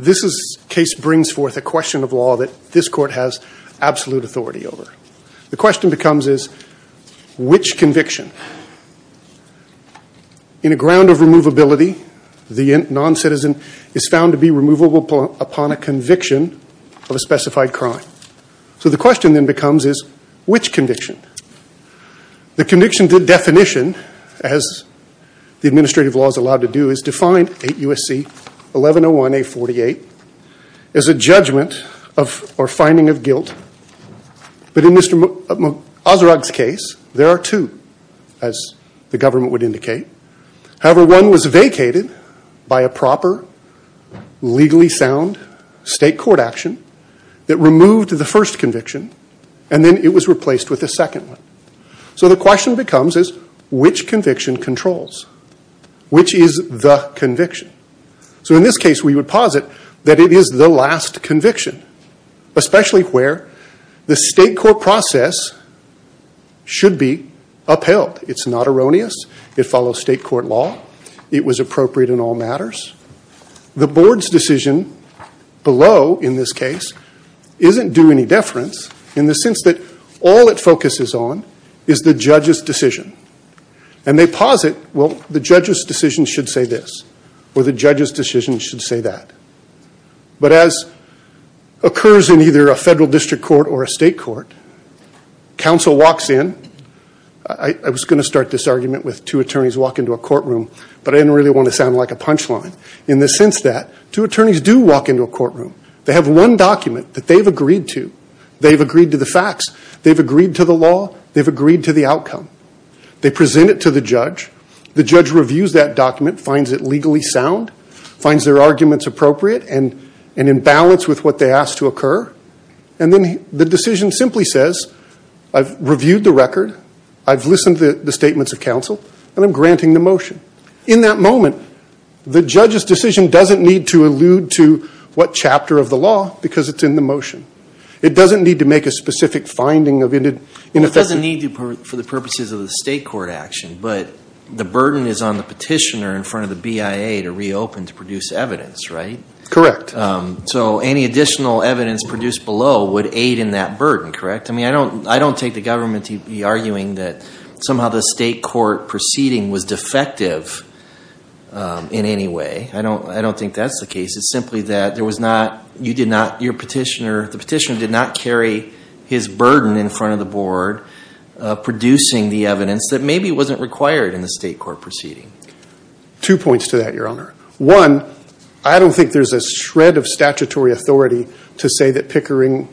This case brings forth a question of law that this court has absolute authority over. The question becomes is, which conviction, in a ground of removability, the non-citizen is found to be removable upon a conviction of a specified crime. So the question then becomes is, which conviction? The conviction definition, as the administrative law is allowed to do, is defined, 8 U.S.C. 1101-A48, as a judgment or finding of guilt. But in Mr. Azrag's case, there are two, as the government would indicate. However, one was vacated by a proper, legally sound state court action that removed the first conviction, and then it was replaced with a second one. So the question becomes is, which conviction controls? Which is the conviction? So in this case, we would posit that it is the last conviction, especially where the state court process should be upheld. It's not erroneous. It follows state court law. It was appropriate in all matters. The board's decision below, in this case, isn't due any deference in the sense that all it focuses on is the judge's decision. And they posit, well, the judge's decision should say this, or the judge's decision should say that. But as occurs in either a federal district court or a state court, counsel walks in. I was going to start this argument with two attorneys walk into a courtroom, but I didn't really want to sound like a punchline. In the sense that two attorneys do walk into a courtroom. They have one document that they've agreed to. They've agreed to the facts. They've agreed to the law. They've agreed to the outcome. They present it to the judge. The judge reviews that document, finds it legally sound, finds their arguments appropriate and in balance with what they asked to occur. And then the decision simply says, I've reviewed the record, I've listened to the statements of counsel, and I'm granting the motion. In that moment, the judge's decision doesn't need to allude to what chapter of the law, because it's in the motion. It doesn't need to make a specific finding. It doesn't need to for the purposes of the state court action, but the burden is on the petitioner in front of the BIA to reopen to produce evidence, right? Correct. So any additional evidence produced below would aid in that burden, correct? I mean, I don't take the government to be arguing that somehow the state court proceeding was defective in any way. I don't think that's the case. It's simply that there was not, you did not, your petitioner, the petitioner did not carry his burden in front of the board, producing the evidence that maybe wasn't required in the state court proceeding. Two points to that, Your Honor. One, I don't think there's a shred of statutory authority to say that Pickering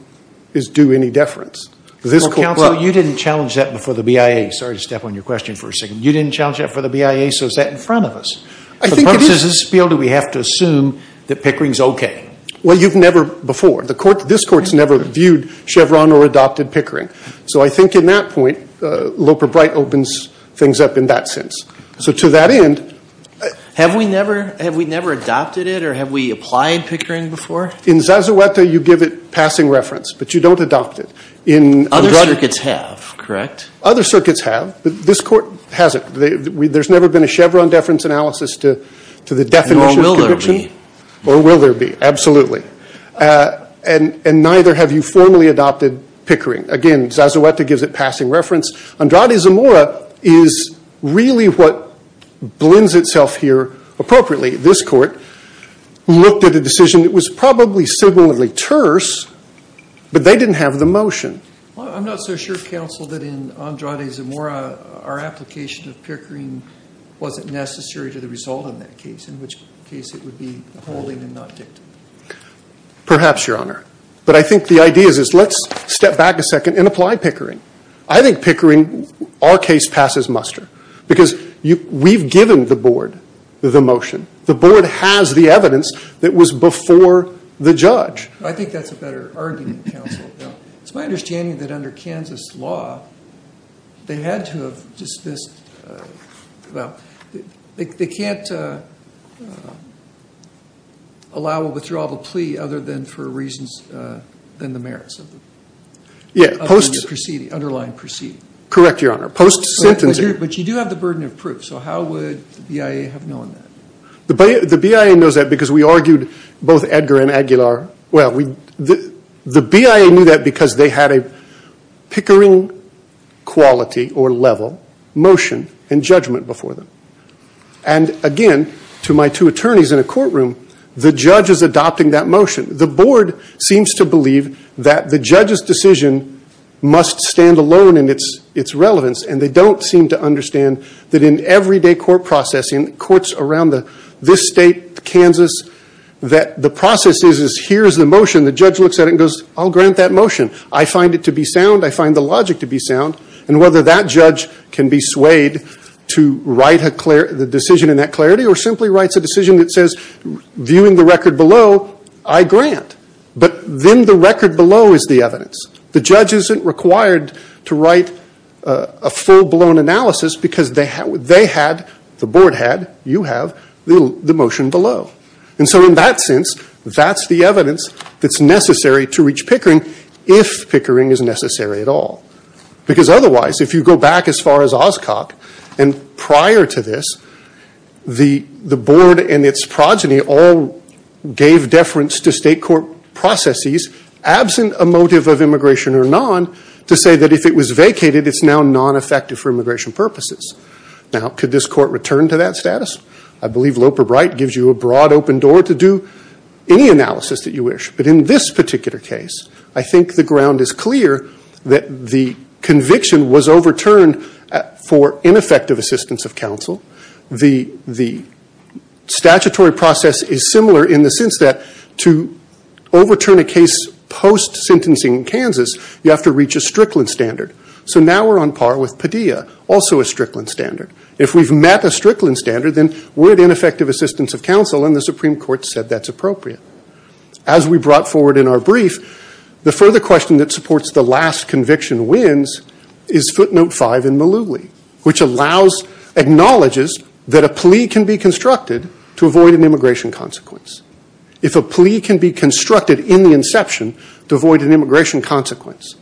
is due any deference. Well, counsel, you didn't challenge that before the BIA. Sorry to step on your question for a second. You didn't challenge that before the BIA, so is that in front of us? I think it is. Does this feel that we have to assume that Pickering's okay? Well, you've never before. The court, this court's never viewed Chevron or adopted Pickering. So I think in that point, Loper-Bright opens things up in that sense. So to that end. Have we never, have we never adopted it or have we applied Pickering before? In Zazueta, you give it passing reference, but you don't adopt it. Other circuits have, correct? Other circuits have, but this court hasn't. There's never been a Chevron deference analysis to the definition. Nor will there be. Nor will there be, absolutely. And neither have you formally adopted Pickering. Again, Zazueta gives it passing reference. Andrade Zamora is really what blends itself here appropriately. This court looked at a decision that was probably similarly terse, but they didn't have the motion. Well, I'm not so sure, counsel, that in Andrade Zamora, our application of Pickering wasn't necessary to the result of that case. In which case it would be holding and not dictating. Perhaps, Your Honor. But I think the idea is let's step back a second and apply Pickering. I think Pickering, our case passes muster. Because we've given the board the motion. The board has the evidence that was before the judge. I think that's a better argument, counsel. It's my understanding that under Kansas law, they had to have dismissed, well, they can't allow a withdrawal of a plea other than for reasons than the merits of the proceeding, underlying proceeding. Correct, Your Honor. Post-sentencing. But you do have the burden of proof. So how would the BIA have known that? The BIA knows that because we argued both Edgar and Aguilar. Well, the BIA knew that because they had a Pickering quality or level motion and judgment before them. And again, to my two attorneys in a courtroom, the judge is adopting that motion. The board seems to believe that the judge's decision must stand alone in its relevance. And they don't seem to understand that in everyday court processing, courts around this state, Kansas, that the process is here's the motion. The judge looks at it and goes, I'll grant that motion. I find it to be sound. I find the logic to be sound. And whether that judge can be swayed to write the decision in that clarity or simply writes a decision that says, viewing the record below, I grant. But then the record below is the evidence. The judge isn't required to write a full-blown analysis because they had, the board had, you have, the motion below. And so in that sense, that's the evidence that's necessary to reach Pickering, if Pickering is necessary at all. Because otherwise, if you go back as far as Oscok, and prior to this, the board and its progeny all gave deference to state court processes, absent a motive of immigration or non, to say that if it was vacated, it's now non-effective for immigration purposes. Now, could this court return to that status? I believe Loper-Bright gives you a broad open door to do any analysis that you wish. But in this particular case, I think the ground is clear that the conviction was overturned for ineffective assistance of counsel. The statutory process is similar in the sense that to overturn a case post-sentencing in Kansas, you have to reach a Strickland standard. So now we're on par with Padilla, also a Strickland standard. If we've met a Strickland standard, then we're at ineffective assistance of counsel, and the Supreme Court said that's appropriate. As we brought forward in our brief, the further question that supports the last conviction wins is footnote 5 in Malouli, which acknowledges that a plea can be constructed to avoid an immigration consequence. If a plea can be constructed in the inception to avoid an immigration consequence,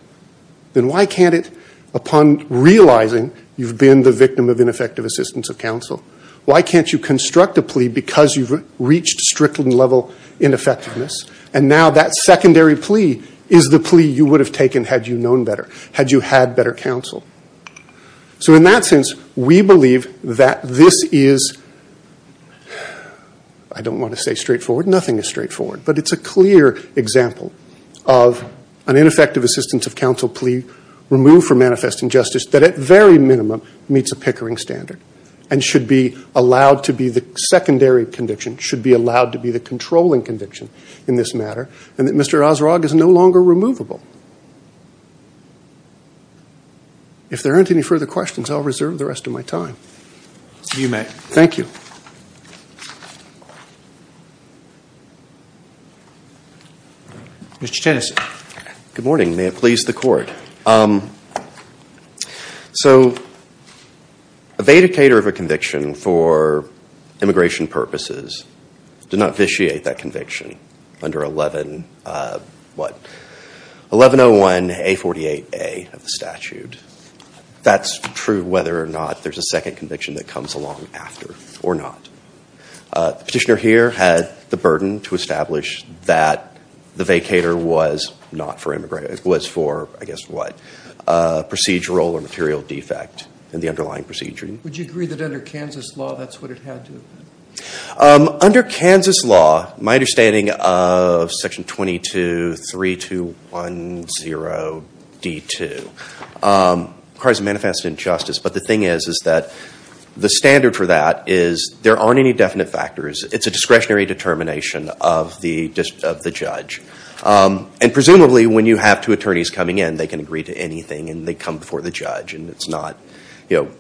then why can't it, upon realizing you've been the victim of ineffective assistance of counsel, why can't you construct a plea because you've reached Strickland-level ineffectiveness, and now that secondary plea is the plea you would have taken had you known better, had you had better counsel? So in that sense, we believe that this is, I don't want to say straightforward, nothing is straightforward, but it's a clear example of an ineffective assistance of counsel plea removed for manifest injustice that at very minimum meets a Pickering standard and should be allowed to be the secondary conviction, should be allowed to be the controlling conviction in this matter, and that Mr. Osrog is no longer removable. If there aren't any further questions, I'll reserve the rest of my time. You may. Thank you. Mr. Tennyson. Good morning. May it please the Court. So a Vedicator of a conviction for immigration purposes did not vitiate that conviction under 1101A48A of the statute. That's true whether or not there's a second conviction that comes along after or not. The petitioner here had the burden to establish that the Vedicator was not for immigration. It was for, I guess, what? Procedural or material defect in the underlying procedure. Would you agree that under Kansas law that's what it had to have been? Under Kansas law, my understanding of Section 223210D2 requires a manifest injustice, but the thing is is that the standard for that is there aren't any definite factors. It's a discretionary determination of the judge. And presumably when you have two attorneys coming in, they can agree to anything and they come before the judge. And it's not, you know,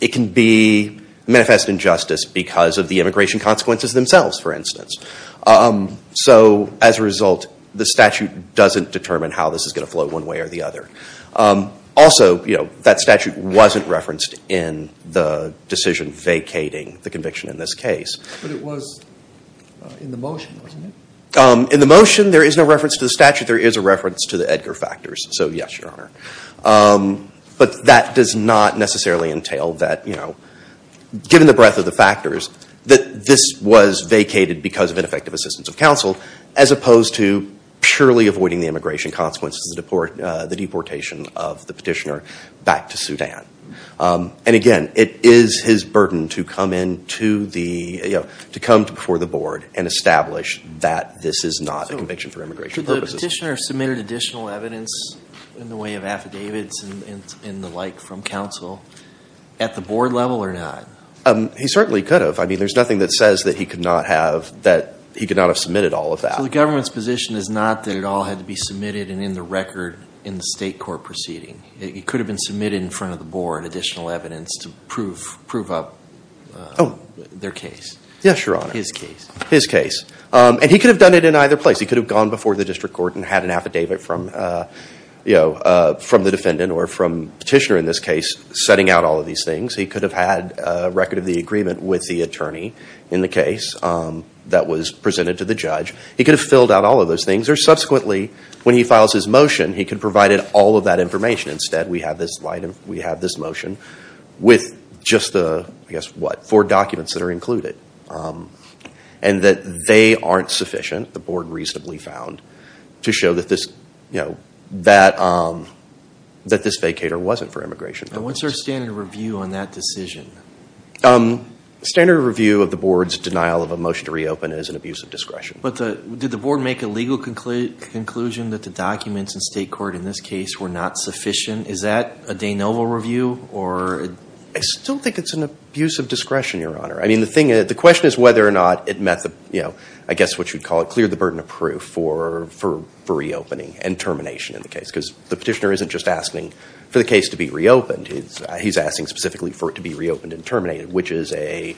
it can be manifest injustice because of the immigration consequences themselves, for instance. So as a result, the statute doesn't determine how this is going to flow one way or the other. Also, you know, that statute wasn't referenced in the decision vacating the conviction in this case. But it was in the motion, wasn't it? In the motion, there is no reference to the statute. There is a reference to the Edgar factors. So, yes, Your Honor. But that does not necessarily entail that, you know, given the breadth of the factors, that this was vacated because of ineffective assistance of counsel as opposed to purely avoiding the immigration consequences of the deportation of the petitioner back to Sudan. And, again, it is his burden to come in to the, you know, to come before the board and establish that this is not a conviction for immigration purposes. Could the petitioner have submitted additional evidence in the way of affidavits and the like from counsel at the board level or not? He certainly could have. I mean, there's nothing that says that he could not have submitted all of that. So the government's position is not that it all had to be submitted and in the record in the state court proceeding. It could have been submitted in front of the board, additional evidence to prove up their case. Yes, Your Honor. His case. His case. And he could have done it in either place. He could have gone before the district court and had an affidavit from, you know, from the defendant or from the petitioner in this case setting out all of these things. He could have had a record of the agreement with the attorney in the case that was presented to the judge. He could have filled out all of those things. Or subsequently, when he files his motion, he could have provided all of that information. Instead, we have this motion with just the, I guess, what? Four documents that are included. And that they aren't sufficient, the board reasonably found, to show that this, you know, that this vacator wasn't for immigration purposes. And what's our standard review on that decision? Standard review of the board's denial of a motion to reopen is an abuse of discretion. But did the board make a legal conclusion that the documents in state court in this case were not sufficient? Is that a de novo review? I still think it's an abuse of discretion, Your Honor. I mean, the thing is, the question is whether or not it met the, you know, I guess what you'd call it, cleared the burden of proof for reopening and termination in the case. Because the petitioner isn't just asking for the case to be reopened. He's asking specifically for it to be reopened and terminated, which is a,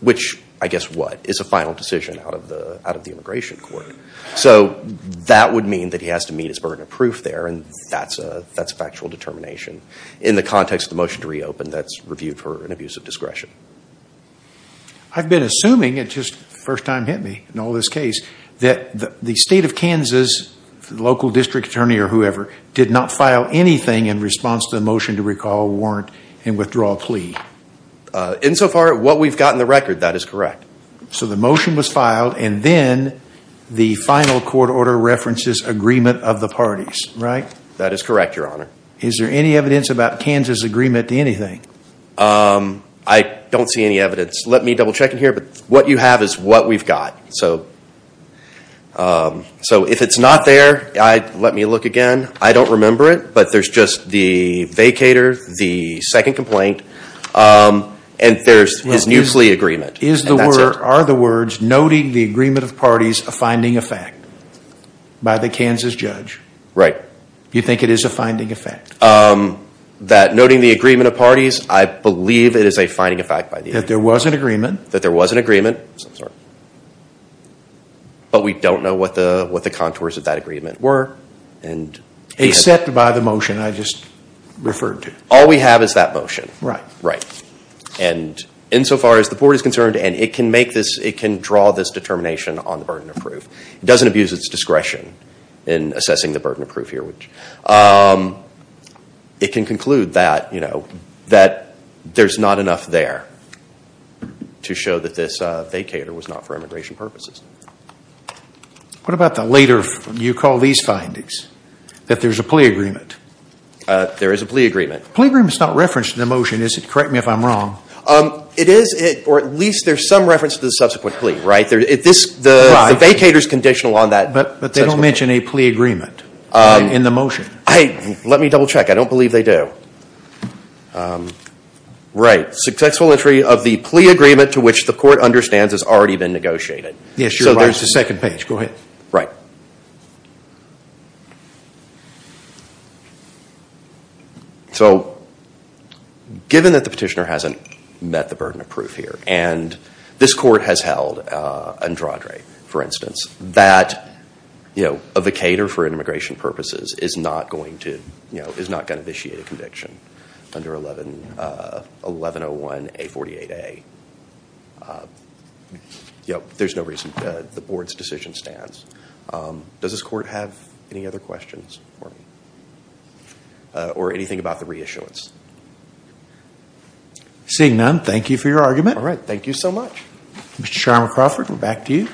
which, I guess, what? It's a final decision out of the immigration court. So that would mean that he has to meet his burden of proof there, and that's a factual determination. In the context of the motion to reopen, that's reviewed for an abuse of discretion. I've been assuming, it just first time hit me in all this case, that the state of Kansas, local district attorney or whoever, did not file anything in response to the motion to recall a warrant and withdraw a plea. Insofar as what we've got in the record, that is correct. So the motion was filed, and then the final court order references agreement of the parties, right? That is correct, Your Honor. Is there any evidence about Kansas' agreement to anything? I don't see any evidence. Let me double check in here, but what you have is what we've got. So if it's not there, let me look again. I don't remember it, but there's just the vacator, the second complaint, and there's his new plea agreement. Are the words, noting the agreement of parties, a finding of fact by the Kansas judge? Right. You think it is a finding of fact? That noting the agreement of parties, I believe it is a finding of fact. That there was an agreement. That there was an agreement, but we don't know what the contours of that agreement were. Except by the motion I just referred to. All we have is that motion. And insofar as the board is concerned, and it can make this, it can draw this determination on the burden of proof. It doesn't abuse its discretion in assessing the burden of proof here. It can conclude that there's not enough there to show that this vacator was not for immigration purposes. What about the later, you call these findings? That there's a plea agreement. There is a plea agreement. The plea agreement is not referenced in the motion, is it? Correct me if I'm wrong. It is, or at least there's some reference to the subsequent plea, right? The vacator is conditional on that. But they don't mention a plea agreement in the motion. Let me double check. I don't believe they do. Right. Successful entry of the plea agreement to which the court understands has already been negotiated. Yes, you're right. It's the second page. Go ahead. So, given that the petitioner hasn't met the burden of proof here, and this court has held, Andrade, for instance, that a vacator for immigration purposes is not going to vitiate a conviction under 1101A48A. There's no reason. The board's decision stands. Does this court have any other questions for me, or anything about the reissuance? Seeing none, thank you for your argument. All right. Thank you so much. Mr. Sharma Crawford, we're back to you.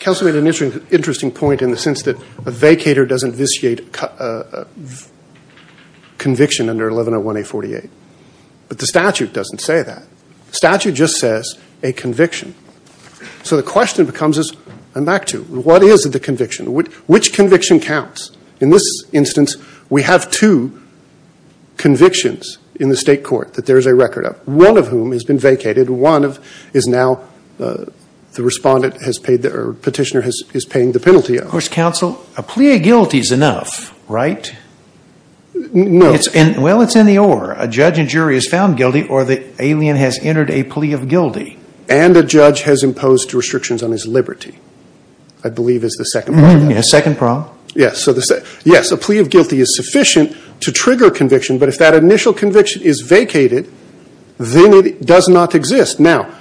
Counsel made an interesting point in the sense that a vacator doesn't vitiate a conviction under 1101A48. But the statute doesn't say that. The statute just says a conviction. So the question becomes, and back to, what is the conviction? Which conviction counts? In this instance, we have two convictions in the state court that there is a record of, one of whom has been vacated. One is now the respondent has paid, or petitioner is paying the penalty of. Of course, counsel, a plea of guilty is enough, right? No. Well, it's in the or. A judge and jury has found guilty, or the alien has entered a plea of guilty. And a judge has imposed restrictions on his liberty, I believe is the second part of that. Yes, second part. Yes. Yes, a plea of guilty is sufficient to trigger conviction. But if that initial conviction is vacated, then it does not exist. Now,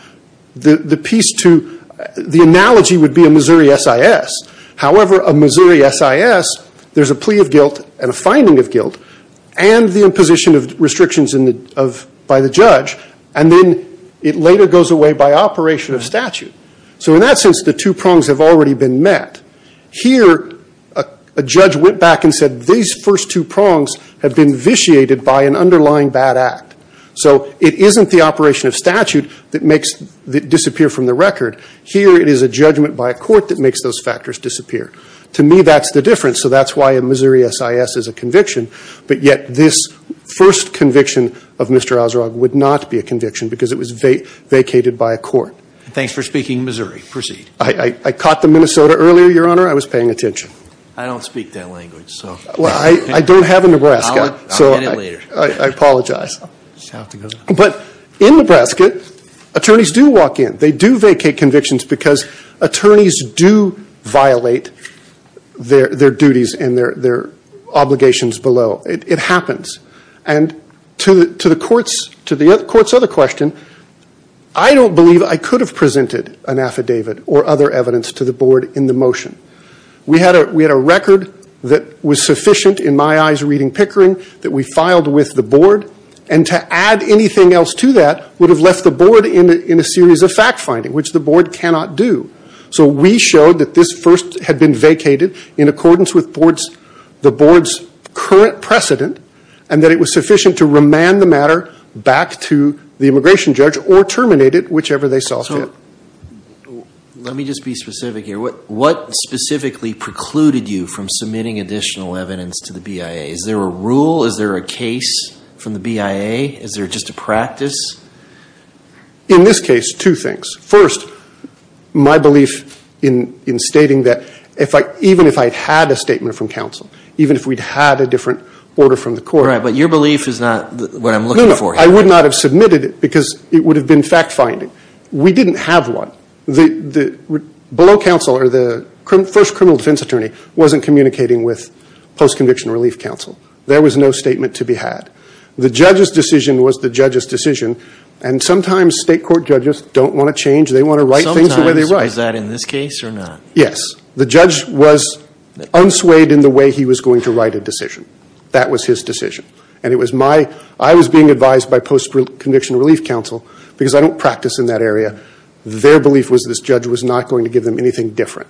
the piece to, the analogy would be a Missouri SIS. However, a Missouri SIS, there's a plea of guilt and a finding of guilt, and the imposition of restrictions by the judge. And then it later goes away by operation of statute. So in that sense, the two prongs have already been met. Here, a judge went back and said, these first two prongs have been vitiated by an underlying bad act. So it isn't the operation of statute that makes it disappear from the record. Here, it is a judgment by a court that makes those factors disappear. To me, that's the difference. So that's why a Missouri SIS is a conviction. But yet, this first conviction of Mr. Osrog would not be a conviction because it was vacated by a court. Thanks for speaking Missouri. Proceed. I caught the Minnesota earlier, Your Honor. I was paying attention. I don't speak that language. Well, I don't have a Nebraska. I'll get it later. I apologize. But in Nebraska, attorneys do walk in. They do vacate convictions because attorneys do violate their duties and their obligations below. It happens. And to the court's other question, I don't believe I could have presented an affidavit or other evidence to the board in the motion. We had a record that was sufficient, in my eyes, reading Pickering, that we filed with the board. And to add anything else to that would have left the board in a series of fact-finding, which the board cannot do. So we showed that this first had been vacated in accordance with the board's current precedent and that it was sufficient to remand the matter back to the immigration judge or terminate it, whichever they saw fit. So let me just be specific here. What specifically precluded you from submitting additional evidence to the BIA? Is there a rule? Is there a case from the BIA? Is there just a practice? In this case, two things. First, my belief in stating that even if I had a statement from counsel, even if we'd had a different order from the court. Right, but your belief is not what I'm looking for here. No, no. I would not have submitted it because it would have been fact-finding. We didn't have one. Below counsel or the first criminal defense attorney wasn't communicating with post-conviction relief counsel. There was no statement to be had. The judge's decision was the judge's decision, and sometimes state court judges don't want to change. They want to write things the way they write. Was that in this case or not? Yes. The judge was unswayed in the way he was going to write a decision. That was his decision. And it was my – I was being advised by post-conviction relief counsel because I don't practice in that area. Their belief was this judge was not going to give them anything different.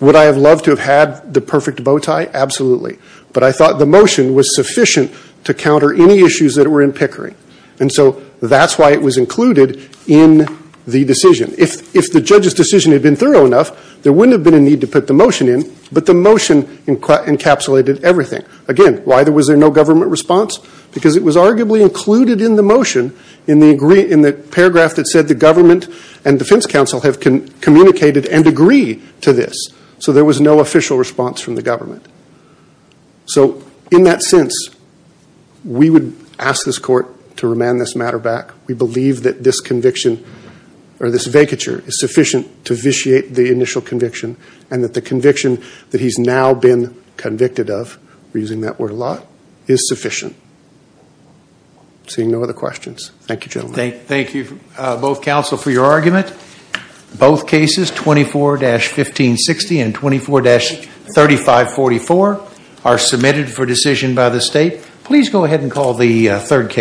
Would I have loved to have had the perfect bow tie? Absolutely. But I thought the motion was sufficient to counter any issues that were in Pickering. And so that's why it was included in the decision. If the judge's decision had been thorough enough, there wouldn't have been a need to put the motion in, but the motion encapsulated everything. Again, why was there no government response? Because it was arguably included in the motion in the paragraph that said the government and defense counsel have communicated and agree to this. So there was no official response from the government. So in that sense, we would ask this court to remand this matter back. We believe that this conviction or this vacature is sufficient to vitiate the initial conviction and that the conviction that he's now been convicted of – we're using that word a lot – is sufficient. Seeing no other questions. Thank you, gentlemen. Thank you, both counsel, for your argument. Both cases, 24-1560 and 24-3544, are submitted for decision by the state. Please go ahead and call the third case.